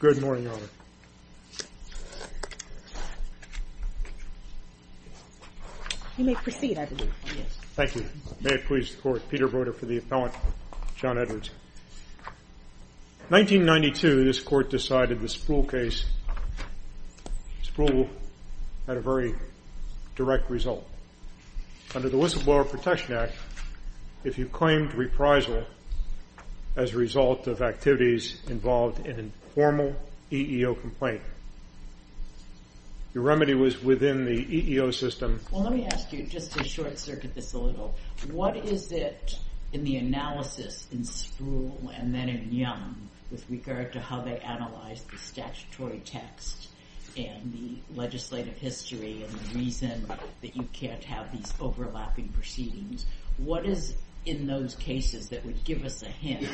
Good morning, Your Honor. You may proceed, I believe. Thank you. May it please the Court. Peter Broder for the appellant. John Edwards. 1992, this Court decided the Spruill case. Spruill had a very direct result. Under the Whistleblower Protection Act, if you claimed reprisal as a result of activities involved in a formal EEO complaint, your remedy was within the EEO system. Well, let me ask you, just to short-circuit this a little, what is it in the analysis in Spruill, and then in Young, with regard to how they analyzed the statutory text and the legislative history, and the reason that you can't have these overlapping proceedings, what is in those cases that would give us a hint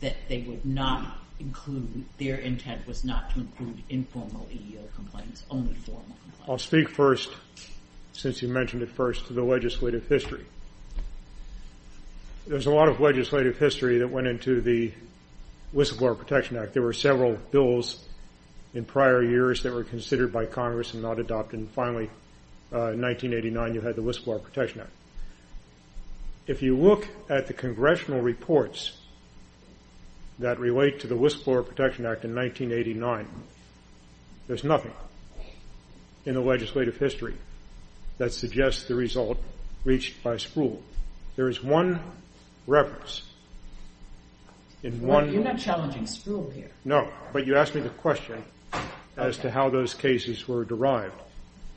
that they would not include, their intent was not to include informal EEO complaints, only formal complaints? I'll speak first, since you mentioned it first, to the legislative history. There's a lot of legislative history that went into the Whistleblower Protection Act. There were several bills in prior years that were considered by Congress and not adopted, and finally, in 1989, you had the Whistleblower Protection Act. If you look at the congressional reports that relate to the Whistleblower Protection Act in 1989, there's nothing in the legislative history that suggests the result reached by Spruill. There is one reference in one You're not challenging Spruill here. No, but you asked me the question as to how those cases were derived,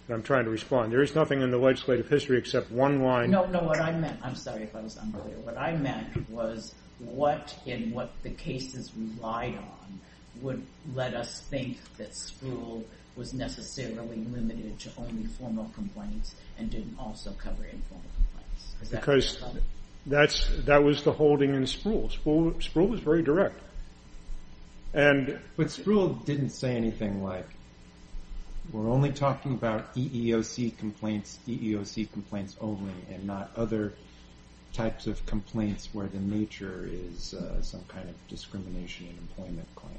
and I'm trying to respond. There is nothing in the legislative history except one line No, no, what I meant, I'm sorry if I was unclear, what I meant was what in what the cases relied on would let us think that Spruill was necessarily limited to only formal complaints and didn't also cover informal complaints? Because that was the holding in Spruill. Spruill was very direct. But Spruill didn't say anything like, we're only talking about EEOC complaints, EEOC complaints only and not other types of complaints where the nature is some kind of discrimination and employment claim.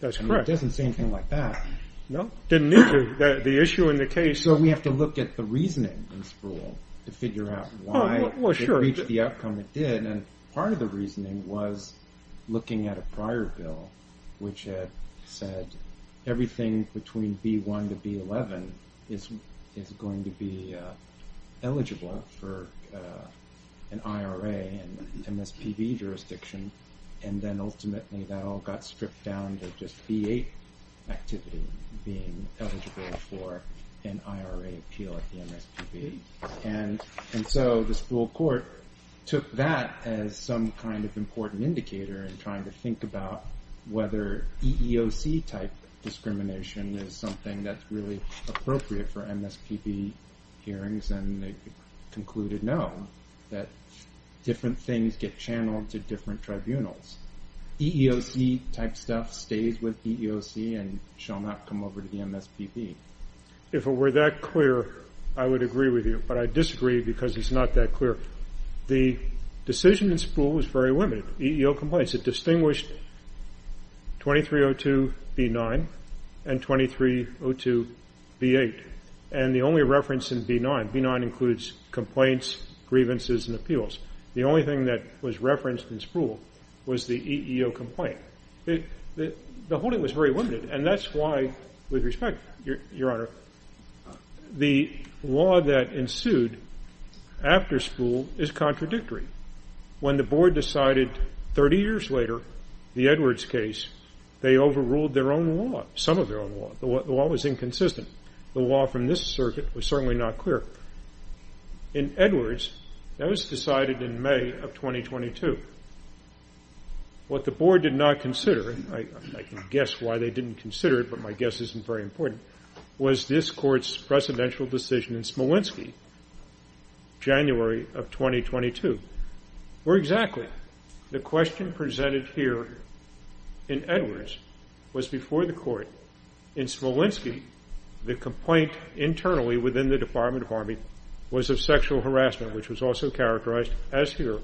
That's correct. And it doesn't say anything like that. No, it didn't need to. The issue in the case So we have to look at the reasoning in Spruill to figure out why it reached the outcome it did. And part of the reasoning was looking at a prior bill which had said everything between B1 to B11 is going to be eligible for an IRA and MSPB jurisdiction. And then ultimately that all got stripped down to just B8 activity being eligible for an IRA appeal at the MSPB. And so the Spruill court took that as some kind of important indicator in trying to think about whether EEOC type discrimination is something that's really appropriate for MSPB hearings. And they concluded no, that different things get channeled to different tribunals. EEOC type stuff stays with EEOC and shall not come over to the MSPB. If it were that clear, I would agree with you. But I disagree because it's not that clear. The decision in Spruill was very limited, EEO complaints. It distinguished 2302B9 and 2302B8. And the only reference in B9, B9 includes complaints, grievances, and appeals. The only thing that was referenced in Spruill was the EEO complaint. The holding was very limited. And that's why, with respect, Your Honor, the law that ensued after Spruill is contradictory. When the board decided 30 years later the Edwards case, they overruled their own law, some of their own law. The law was inconsistent. The law from this circuit was certainly not clear. In Edwards, that was decided in May of 2022. What the board did not consider, and I can guess why they didn't consider it, but my guess isn't very important, was this court's presidential decision in Smolenski, January of 2022. Where exactly? The question presented here in Edwards was before the court. In Smolenski, the complaint internally within the Department of Army was of sexual harassment, which was also characterized, as here,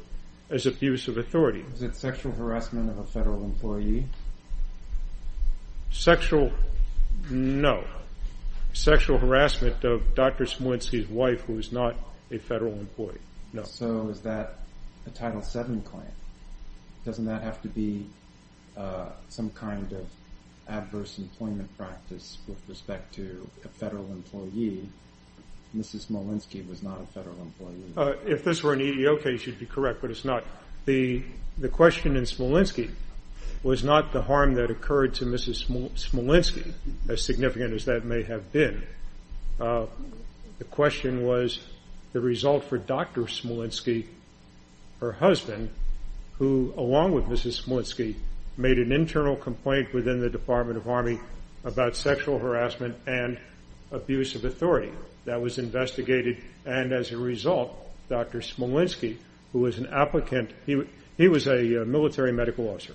as abuse of authority. Was it sexual harassment of a federal employee? Sexual, no. Sexual harassment of Dr. Smolenski's wife, who was not a federal employee, no. So is that a Title VII claim? Doesn't that have to be some kind of adverse employment practice with respect to a federal employee? Mrs. Smolenski was not a federal employee. If this were an EEO case, you'd be correct, but it's not. The question in Smolenski was not the harm that occurred to Mrs. Smolenski, as significant as that may have been. The question was the result for Dr. Smolenski, her husband, who, along with Mrs. Smolenski, made an internal complaint within the Department of Army about sexual harassment and abuse of authority. That was investigated, and as a result, Dr. Smolenski, who was an applicant, he was a military medical officer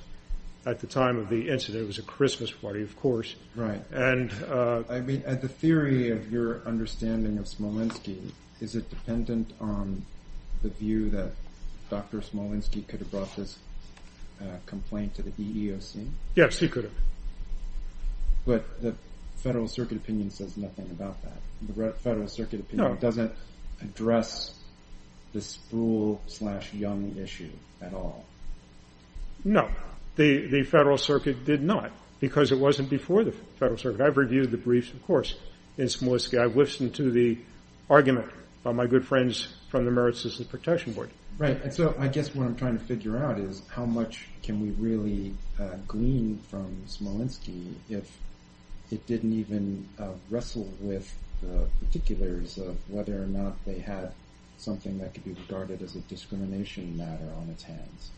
at the time of the incident. It was a Christmas party, of course. I mean, the theory of your understanding of Smolenski, is it dependent on the view that Dr. Smolenski could have brought this complaint to the EEOC? Yes, he could have. But the Federal Circuit opinion says nothing about that. The Federal Circuit opinion doesn't address this fool-slash-young issue at all. No, the Federal Circuit did not, because it wasn't before the Federal Circuit. I've reviewed the briefs, of course, in Smolenski. I've listened to the argument of my good friends from the Merit System Protection Board. Right, and so I guess what I'm trying to figure out is how much can we really glean from Smolenski if it didn't even wrestle with the particulars of whether or not they had something that could be regarded as a discrimination matter on its hands.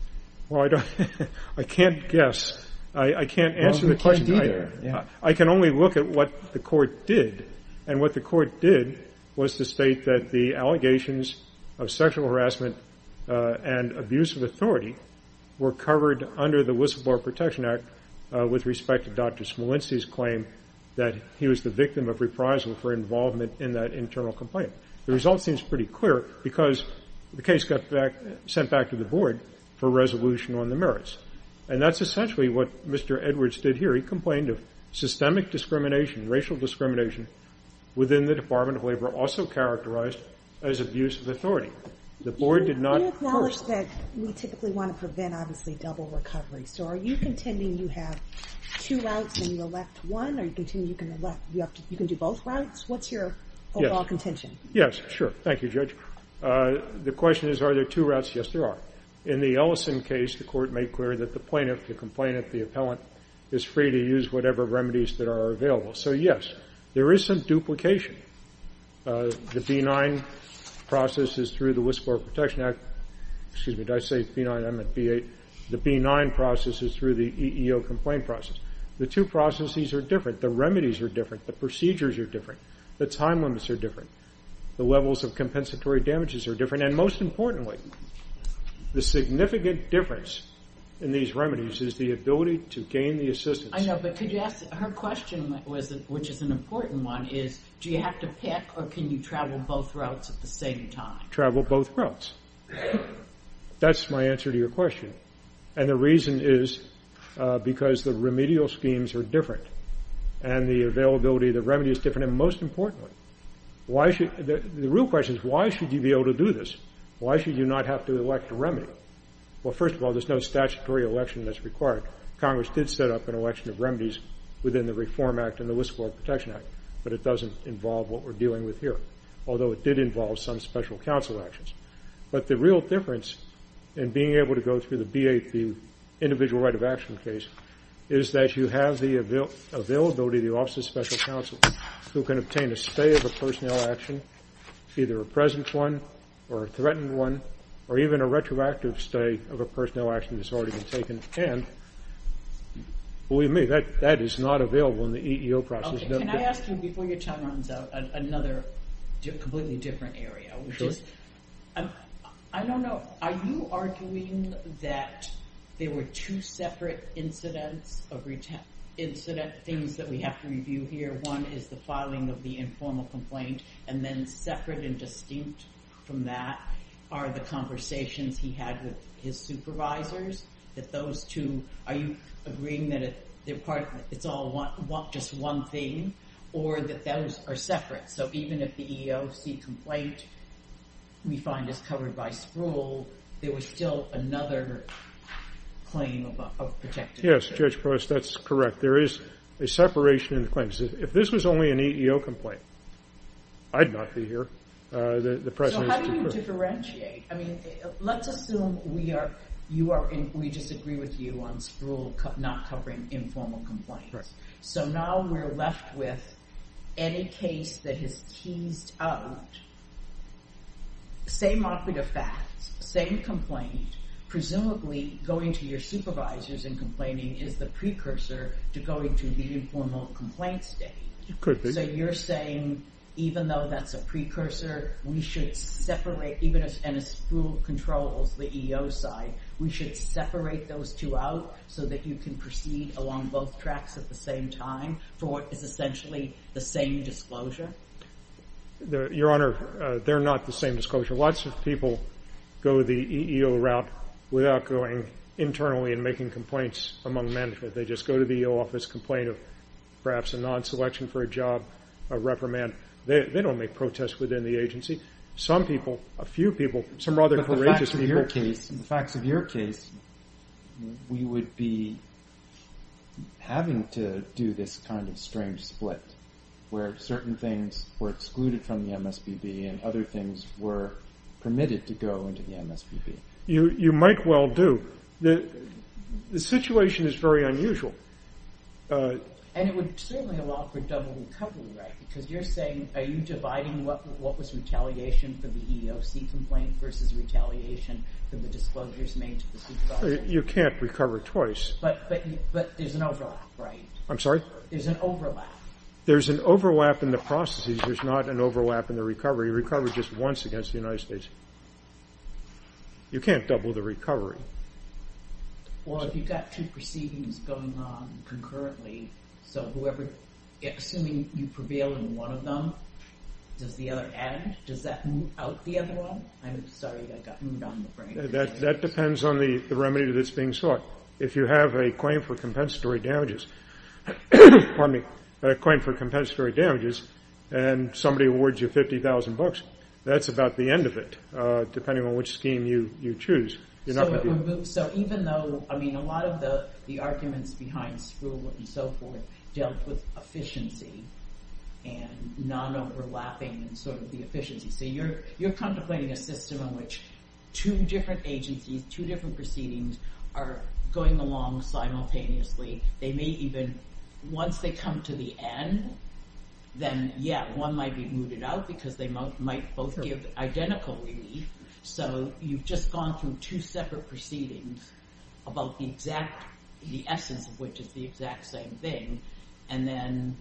Well, I can't guess. I can't answer the question either. I can only look at what the Court did, and what the Court did was to state that the allegations of sexual harassment and abuse of authority were covered under the Whistleblower Protection Act with respect to Dr. Smolenski's claim that he was the victim of reprisal for involvement in that internal complaint. The result seems pretty clear because the case got sent back to the Board for resolution on the merits. And that's essentially what Mr. Edwards did here. He complained of systemic discrimination, racial discrimination, within the Department of Labor also characterized as abuse of authority. The Board did not first. You acknowledged that we typically want to prevent, obviously, double recovery. So are you contending you have two routes and you elect one? Are you contending you can do both routes? What's your overall contention? Yes, sure. Thank you, Judge. The question is are there two routes? Yes, there are. In the Ellison case, the Court made clear that the plaintiff, the complainant, the appellant is free to use whatever remedies that are available. So, yes, there is some duplication. The B-9 process is through the Whistleblower Protection Act. Excuse me, did I say B-9? I meant B-8. The B-9 process is through the EEO complaint process. The two processes are different. The remedies are different. The procedures are different. The time limits are different. The levels of compensatory damages are different. And then, most importantly, the significant difference in these remedies is the ability to gain the assistance. I know, but could you ask her question, which is an important one, is do you have to pick or can you travel both routes at the same time? Travel both routes. That's my answer to your question. And the reason is because the remedial schemes are different and the availability of the remedy is different. And, most importantly, the real question is why should you be able to do this? Why should you not have to elect a remedy? Well, first of all, there's no statutory election that's required. Congress did set up an election of remedies within the Reform Act and the Whistleblower Protection Act, but it doesn't involve what we're dealing with here, although it did involve some special counsel actions. But the real difference in being able to go through the B-8, the individual right of action case, is that you have the availability of the Office of Special Counsel, who can obtain a stay of a personnel action, either a present one or a threatened one, or even a retroactive stay of a personnel action that's already been taken. And, believe me, that is not available in the EEO process. Can I ask you, before your time runs out, another completely different area? Sure. I don't know. Are you arguing that there were two separate incident things that we have to review here? One is the filing of the informal complaint, and then separate and distinct from that are the conversations he had with his supervisors, that those two, are you agreeing that it's all just one thing, or that those are separate? So even if the EEOC complaint we find is covered by SPRUL, there was still another claim of protection? Yes, Judge Price, that's correct. There is a separation in the claims. If this was only an EEO complaint, I'd not be here. So how do you differentiate? I mean, let's assume we just agree with you on SPRUL not covering informal complaints. Correct. So now we're left with any case that has teased out, same operative facts, same complaint, presumably going to your supervisors and complaining is the precursor to going to the informal complaint state. It could be. So you're saying, even though that's a precursor, we should separate, even if SPRUL controls the EEO side, we should separate those two out so that you can proceed along both tracks at the same time, for what is essentially the same disclosure? Your Honor, they're not the same disclosure. Lots of people go the EEO route without going internally and making complaints among men. They just go to the EEO office, complain of perhaps a non-selection for a job, a reprimand. They don't make protests within the agency. Some people, a few people, some rather courageous people. In your case, in the facts of your case, we would be having to do this kind of strange split where certain things were excluded from the MSPB and other things were permitted to go into the MSPB. You might well do. The situation is very unusual. And it would certainly allow for double and couple, right? Because you're saying, are you dividing what was retaliation for the EEOC complaint versus retaliation for the disclosures made to the supervisor? You can't recover twice. But there's an overlap, right? I'm sorry? There's an overlap. There's an overlap in the processes. There's not an overlap in the recovery. You recover just once against the United States. You can't double the recovery. Well, if you've got two proceedings going on concurrently, so assuming you prevail in one of them, does the other add? Does that move out the other one? I'm sorry. I got moved on in the brain. That depends on the remedy that's being sought. If you have a claim for compensatory damages and somebody awards you 50,000 bucks, that's about the end of it depending on which scheme you choose. So even though, I mean, a lot of the arguments behind Skrull and so forth dealt with efficiency and non-overlapping and sort of the efficiency. So you're contemplating a system in which two different agencies, two different proceedings are going along simultaneously. They may even, once they come to the end, then, yeah, one might be mooted out because they might both give identical relief. So you've just gone through two separate proceedings about the exact, the essence of which is the exact same thing, and then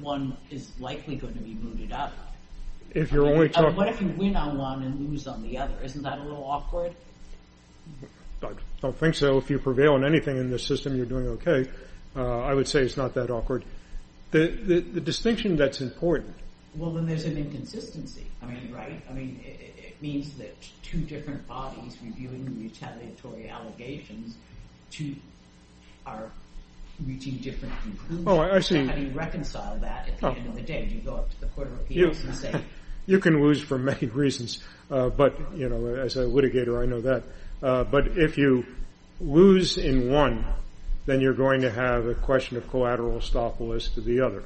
one is likely going to be mooted out. What if you win on one and lose on the other? Isn't that a little awkward? I don't think so. If you prevail on anything in the system, you're doing okay. I would say it's not that awkward. The distinction that's important. Well, then there's an inconsistency, right? I mean, it means that two different bodies reviewing retaliatory allegations, two are reaching different conclusions. Oh, I see. How do you reconcile that at the end of the day? Do you go up to the Court of Appeals and say? You can lose for many reasons. But, you know, as a litigator, I know that. But if you lose in one, then you're going to have a question of collateral estopolis to the other.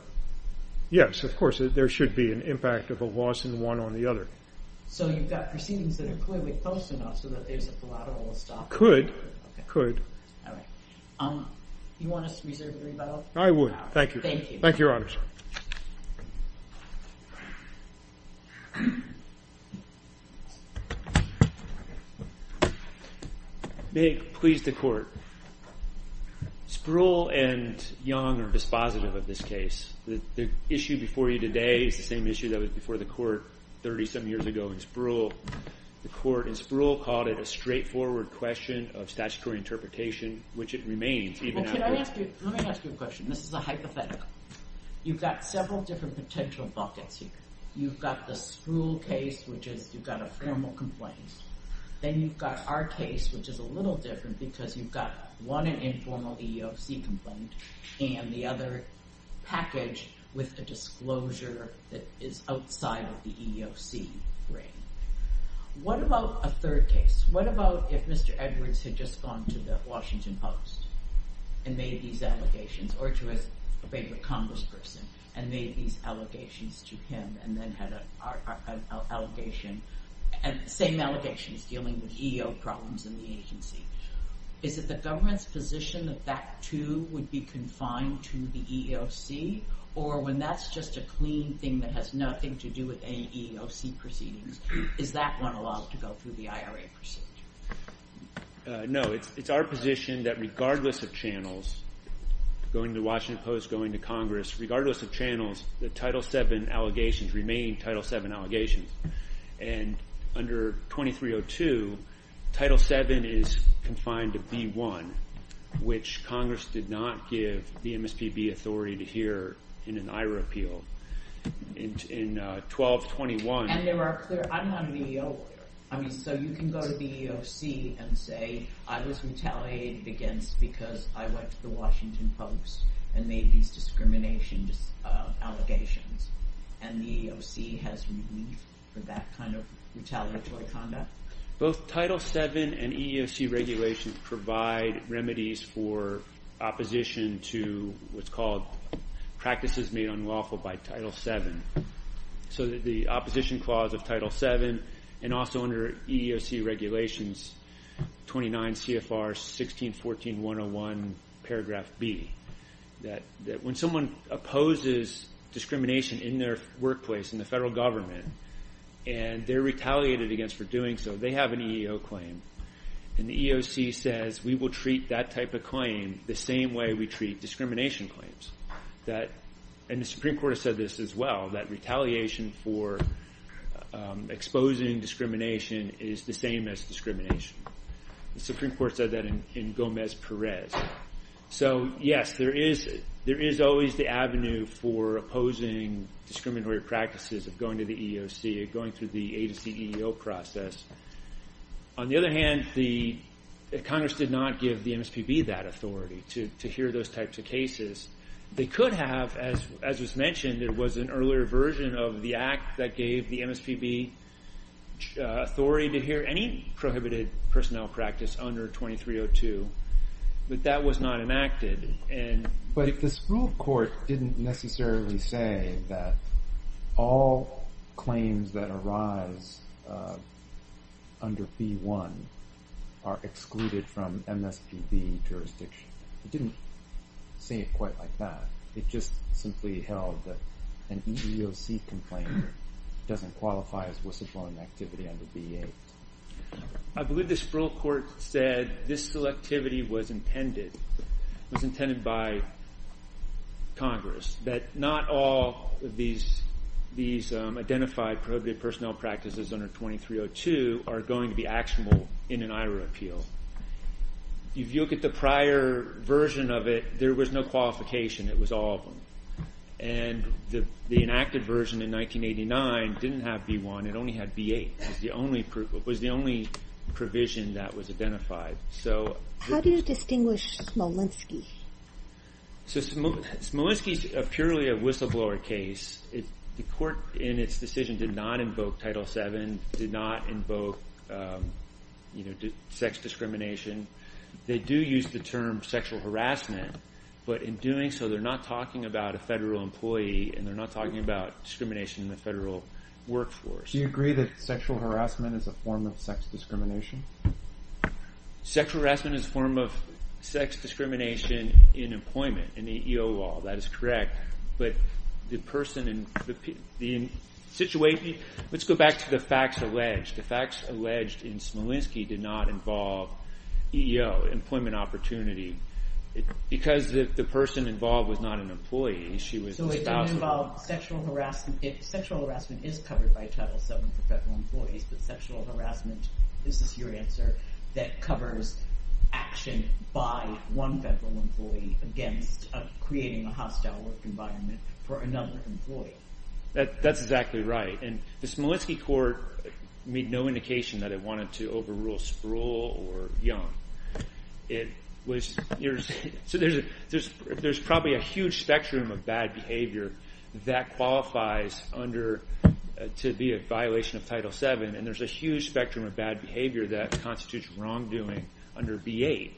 Yes, of course, there should be an impact of a loss in one on the other. So you've got proceedings that are clearly close enough so that there's a collateral estopolis? Could, could. You want us to reserve the rebuttal? I would, thank you. Thank you. Thank you, Your Honors. May it please the Court. Spruill and Young are dispositive of this case. The issue before you today is the same issue that was before the Court 30-some years ago in Spruill. The Court in Spruill called it a straightforward question of statutory interpretation, which it remains even now. Well, can I ask you, let me ask you a question. This is a hypothetical. You've got several different potential buckets here. You've got the Spruill case, which is, you've got a formal complaint. Then you've got our case, which is a little different because you've got one an informal EEOC complaint and the other packaged with a disclosure that is outside of the EEOC ring. What about a third case? What about if Mr. Edwards had just gone to the Washington Post and made these allegations, or to his favorite congressperson and made these allegations to him and then had an allegation, same allegations dealing with EEOC problems in the agency? Is it the government's position that that, too, would be confined to the EEOC? Or when that's just a clean thing that has nothing to do with any EEOC proceedings, is that one allowed to go through the IRA procedure? No, it's our position that regardless of channels, going to the Washington Post, going to Congress, regardless of channels, the Title VII allegations remain Title VII allegations. Under 2302, Title VII is confined to B1, which Congress did not give the MSPB authority to hear in an IRA appeal. In 1221— And there are clear—I'm not an EEO lawyer. So you can go to the EEOC and say, I was retaliated against because I went to the Washington Post and made these discrimination allegations, and the EEOC has relief for that kind of retaliatory conduct? Both Title VII and EEOC regulations provide remedies for opposition to what's called practices made unlawful by Title VII. So the opposition clause of Title VII and also under EEOC regulations, 29 CFR 1614101 paragraph B, that when someone opposes discrimination in their workplace, in the federal government, and they're retaliated against for doing so, they have an EEO claim. And the EEOC says we will treat that type of claim the same way we treat discrimination claims. And the Supreme Court has said this as well, that retaliation for exposing discrimination is the same as discrimination. The Supreme Court said that in Gomez-Perez. So, yes, there is always the avenue for opposing discriminatory practices of going to the EEOC or going through the agency EEO process. On the other hand, Congress did not give the MSPB that authority to hear those types of cases. They could have, as was mentioned, it was an earlier version of the act that gave the MSPB authority to hear any prohibited personnel practice under 2302. But that was not enacted. But this rule of court didn't necessarily say that all claims that arise under B-1 are excluded from MSPB jurisdiction. It didn't say it quite like that. It just simply held that an EEOC complaint doesn't qualify as whistleblowing activity under B-8. I believe this rule of court said this selectivity was intended. It was intended by Congress, that not all of these identified prohibited personnel practices under 2302 are going to be actionable in an IRA appeal. If you look at the prior version of it, there was no qualification. It was all of them. And the enacted version in 1989 didn't have B-1. It only had B-8. It was the only provision that was identified. How do you distinguish Smolenski? Smolenski is purely a whistleblower case. The court, in its decision, did not invoke Title VII, did not invoke sex discrimination. They do use the term sexual harassment. But in doing so, they're not talking about a federal employee, and they're not talking about discrimination in the federal workforce. Do you agree that sexual harassment is a form of sex discrimination? Sexual harassment is a form of sex discrimination in employment, in the EEO law. That is correct. But the person in the situation, let's go back to the facts alleged. The facts alleged in Smolenski did not involve EEO, employment opportunity, because the person involved was not an employee. She was a spouse. So it didn't involve sexual harassment. Sexual harassment is covered by Title VII for federal employees, but sexual harassment, this is your answer, that covers action by one federal employee against creating a hostile work environment for another employee. That's exactly right. And the Smolenski court made no indication that it wanted to overrule Sproul or Young. There's probably a huge spectrum of bad behavior that qualifies to be a violation of Title VII, and there's a huge spectrum of bad behavior that constitutes wrongdoing under B-8.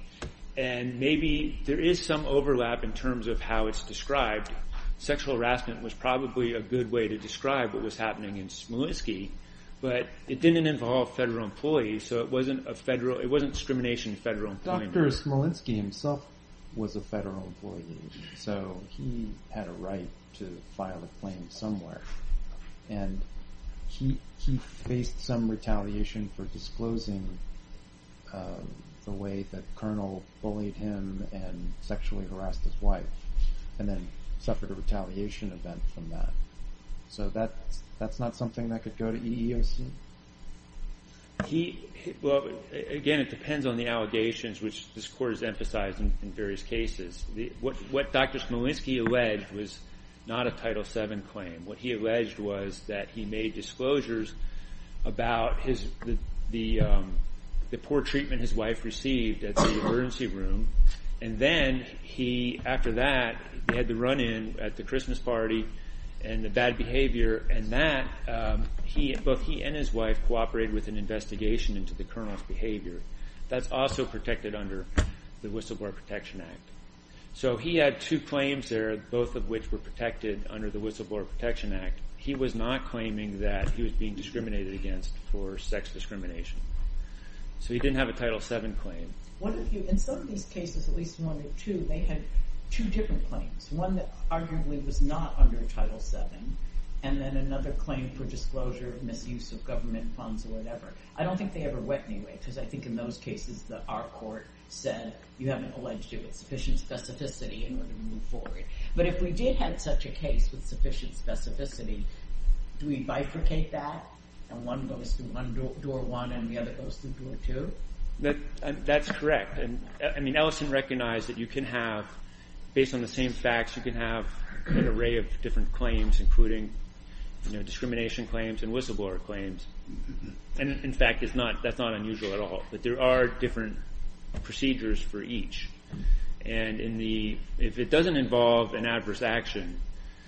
And maybe there is some overlap in terms of how it's described. Sexual harassment was probably a good way to describe what was happening in Smolenski, but it didn't involve federal employees, so it wasn't discrimination of federal employees. Dr. Smolenski himself was a federal employee, so he had a right to file a claim somewhere. And he faced some retaliation for disclosing the way that Colonel bullied him and sexually harassed his wife and then suffered a retaliation event from that. So that's not something that could go to EEOC? Again, it depends on the allegations, which this court has emphasized in various cases. What Dr. Smolenski alleged was not a Title VII claim. What he alleged was that he made disclosures about the poor treatment his wife received at the emergency room, and then after that he had the run-in at the Christmas party and the bad behavior, and both he and his wife cooperated with an investigation into the colonel's behavior. That's also protected under the Whistleblower Protection Act. So he had two claims there, both of which were protected under the Whistleblower Protection Act. He was not claiming that he was being discriminated against for sex discrimination. So he didn't have a Title VII claim. In some of these cases, at least one or two, they had two different claims. One that arguably was not under Title VII, and then another claim for disclosure of misuse of government funds or whatever. I don't think they ever went, anyway, because I think in those cases our court said, you haven't alleged it with sufficient specificity in order to move forward. But if we did have such a case with sufficient specificity, do we bifurcate that, and one goes through door one and the other goes through door two? That's correct. I mean Ellison recognized that you can have, based on the same facts, you can have an array of different claims, including discrimination claims and whistleblower claims. In fact, that's not unusual at all, but there are different procedures for each. If it doesn't involve an adverse action,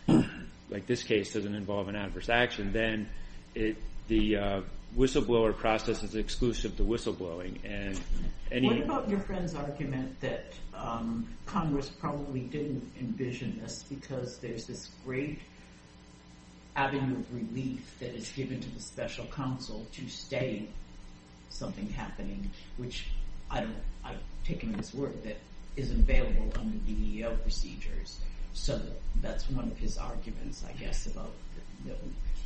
like this case doesn't involve an adverse action, then the whistleblower process is exclusive to whistleblowing. What about your friend's argument that Congress probably didn't envision this because there's this great avenue of relief that is given to the special counsel to stay something happening, which I've taken on this work, that isn't available under the EEO procedures. So that's one of his arguments, I guess, about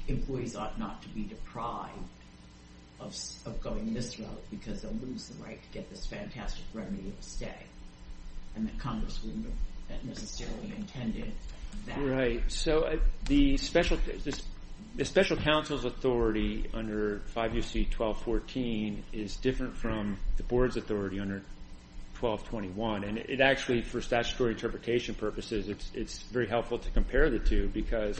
employees ought not to be deprived of going this route because they'll lose the right to get this fantastic remedy of a stay, and that Congress wouldn't have necessarily intended that. Right. So the special counsel's authority under 5 U.C. 1214 is different from the board's authority under 1221, and it actually, for statutory interpretation purposes, it's very helpful to compare the two because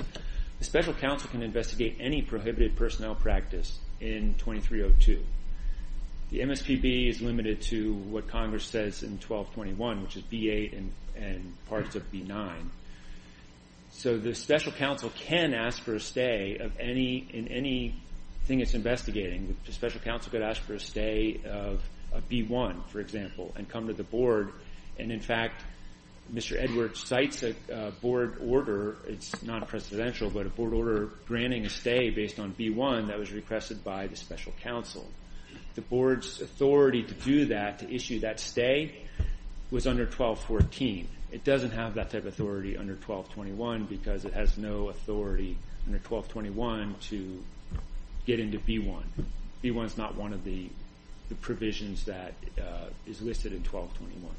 the special counsel can investigate any prohibited personnel practice in 2302. The MSPB is limited to what Congress says in 1221, which is B-8 and parts of B-9. So the special counsel can ask for a stay in anything it's investigating. The special counsel could ask for a stay of B-1, for example, and come to the board, and in fact, Mr. Edwards cites a board order. It's not a presidential, but a board order granting a stay based on B-1 that was requested by the special counsel. The board's authority to do that, to issue that stay, was under 1214. It doesn't have that type of authority under 1221 because it has no authority under 1221 to get into B-1. B-1 is not one of the provisions that is listed in 1221.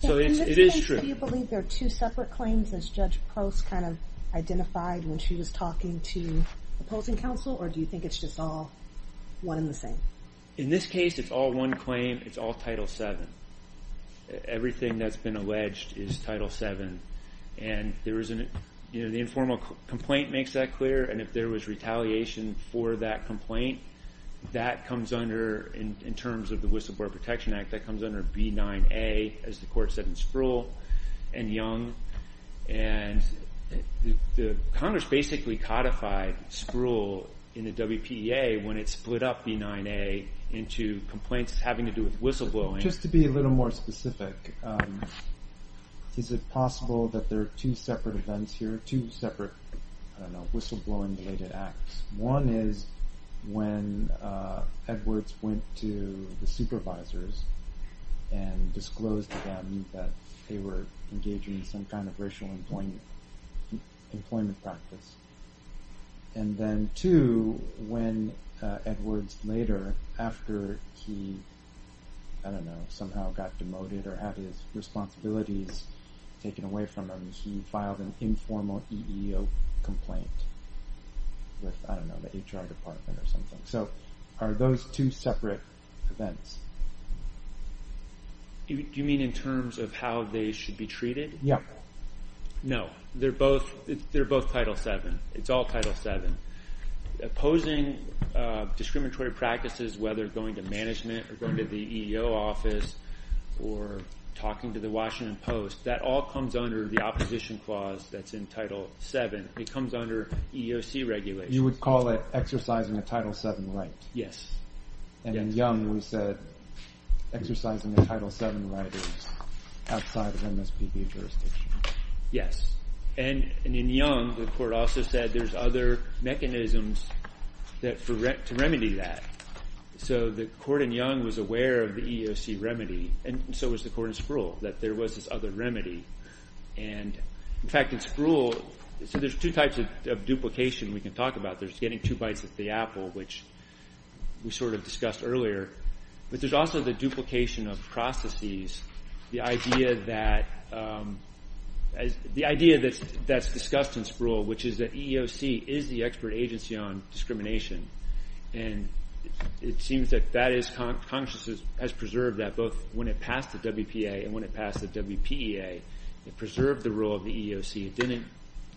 So it is true. Do you believe there are two separate claims, as Judge Post kind of identified when she was talking to opposing counsel, or do you think it's just all one and the same? In this case, it's all one claim. It's all Title VII. Everything that's been alleged is Title VII, and the informal complaint makes that clear, and if there was retaliation for that complaint, that comes under, in terms of the Whistleblower Protection Act, that comes under B-9A, as the court said in Spruill and Young, and Congress basically codified Spruill in the WPA when it split up B-9A into complaints having to do with whistleblowing. Just to be a little more specific, is it possible that there are two separate events here, two separate whistleblowing-related acts? One is when Edwards went to the supervisors and disclosed to them that they were engaging in some kind of racial employment practice, and then two, when Edwards later, after he, I don't know, somehow got demoted or had his responsibilities taken away from him, he filed an informal EEO complaint with, I don't know, the HR department or something. So are those two separate events? Do you mean in terms of how they should be treated? Yeah. No, they're both Title VII. It's all Title VII. Opposing discriminatory practices, whether going to management or going to the EEO office or talking to the Washington Post, that all comes under the opposition clause that's in Title VII. It comes under EEOC regulations. You would call it exercising a Title VII right? Yes. And in Young, we said exercising a Title VII right is outside of MSPB jurisdiction. Yes. And in Young, the court also said there's other mechanisms to remedy that. So the court in Young was aware of the EEOC remedy, and so was the court in Sproul, that there was this other remedy. And, in fact, in Sproul, so there's two types of duplication we can talk about. There's getting two bites at the apple, which we sort of discussed earlier. But there's also the duplication of processes, the idea that's discussed in Sproul, which is that EEOC is the expert agency on discrimination. And it seems that Congress has preserved that both when it passed the WPA and when it passed the WPEA. It preserved the role of the EEOC. It didn't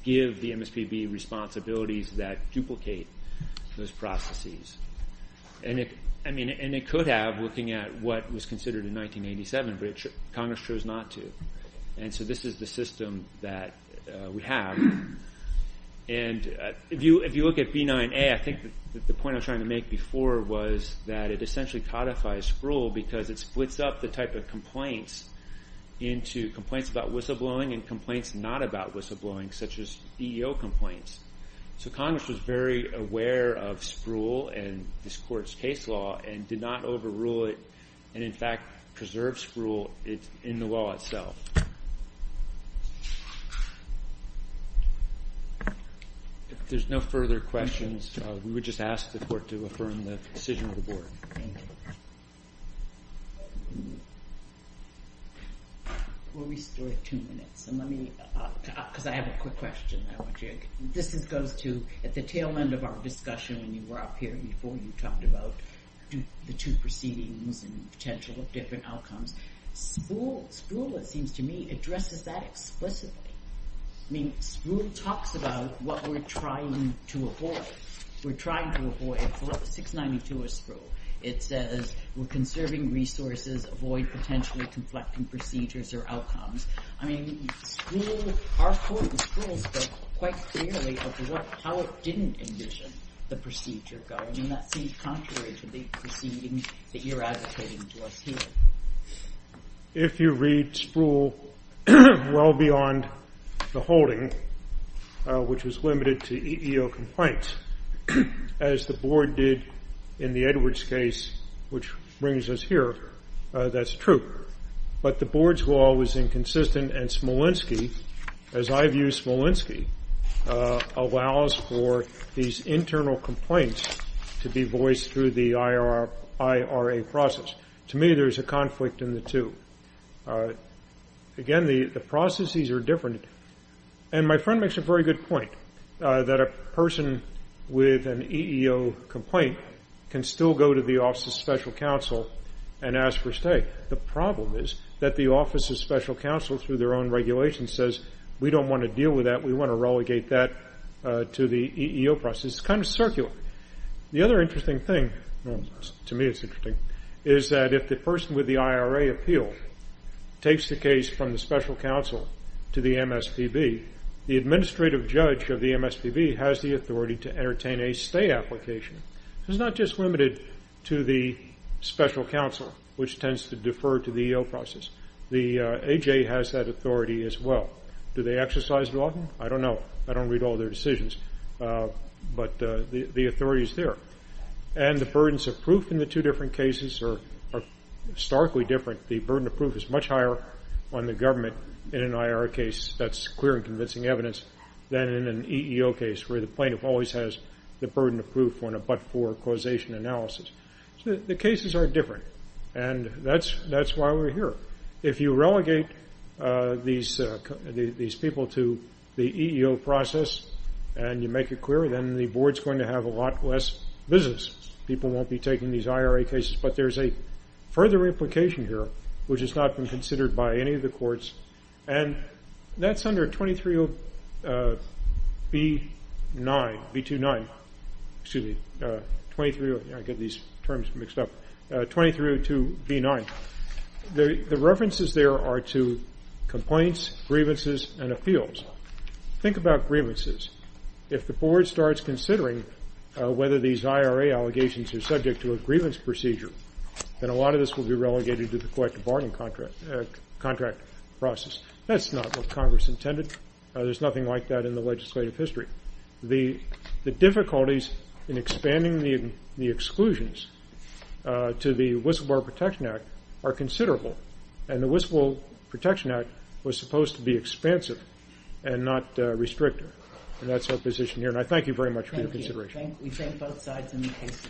give the MSPB responsibilities that duplicate those processes. And it could have, looking at what was considered in 1987, but Congress chose not to. And so this is the system that we have. And if you look at B9A, I think the point I was trying to make before was that it essentially codifies Sproul because it splits up the type of complaints into complaints about whistleblowing and complaints not about whistleblowing, such as EEO complaints. So Congress was very aware of Sproul and this court's case law and did not overrule it and, in fact, preserve Sproul in the law itself. If there's no further questions, we would just ask the court to affirm the decision of the board. Thank you. We'll restore two minutes. And let me – because I have a quick question that I want to – this goes to at the tail end of our discussion when you were up here before, you talked about the two proceedings and potential different outcomes. Sproul, it seems to me, addresses that explicitly. I mean, Sproul talks about what we're trying to avoid. We're trying to avoid – 692 is Sproul. It says we're conserving resources, avoid potentially conflicting procedures or outcomes. I mean, Sproul – our court in Sproul spoke quite clearly of how it didn't envision the procedure going. And that seems contrary to the proceedings that you're advocating to us here. If you read Sproul well beyond the holding, which was limited to EEO complaints, as the board did in the Edwards case, which brings us here, that's true. But the board's law was inconsistent and Smolensky, as I view Smolensky, allows for these internal complaints to be voiced through the IRA process. To me, there's a conflict in the two. Again, the processes are different. And my friend makes a very good point that a person with an EEO complaint can still go to the office of special counsel and ask for a stay. The problem is that the office of special counsel, through their own regulation, says we don't want to deal with that. We want to relegate that to the EEO process. It's kind of circular. The other interesting thing – to me it's interesting – is that if the person with the IRA appeal takes the case from the special counsel to the MSPB, the administrative judge of the MSPB has the authority to entertain a stay application. It's not just limited to the special counsel, which tends to defer to the EEO process. The AJ has that authority as well. Do they exercise it often? I don't know. I don't read all their decisions. But the authority is there. And the burdens of proof in the two different cases are starkly different. The burden of proof is much higher on the government in an IRA case – that's clear and convincing evidence – than in an EEO case where the plaintiff always has the burden of proof on a but-for causation analysis. So the cases are different. And that's why we're here. If you relegate these people to the EEO process and you make it clear, then the board's going to have a lot less business. People won't be taking these IRA cases. But there's a further implication here, which has not been considered by any of the courts, and that's under 2302 B-9, B-2-9. Excuse me, 2302 – I get these terms mixed up – 2302 B-9. The references there are to complaints, grievances, and appeals. Think about grievances. If the board starts considering whether these IRA allegations are subject to a grievance procedure, then a lot of this will be relegated to the collective bargaining contract process. That's not what Congress intended. There's nothing like that in the legislative history. The difficulties in expanding the exclusions to the Whistleblower Protection Act are considerable. And the Whistleblower Protection Act was supposed to be expansive and not restrictive. And that's our position here. And I thank you very much for your consideration. Thank you. We thank both sides in the case.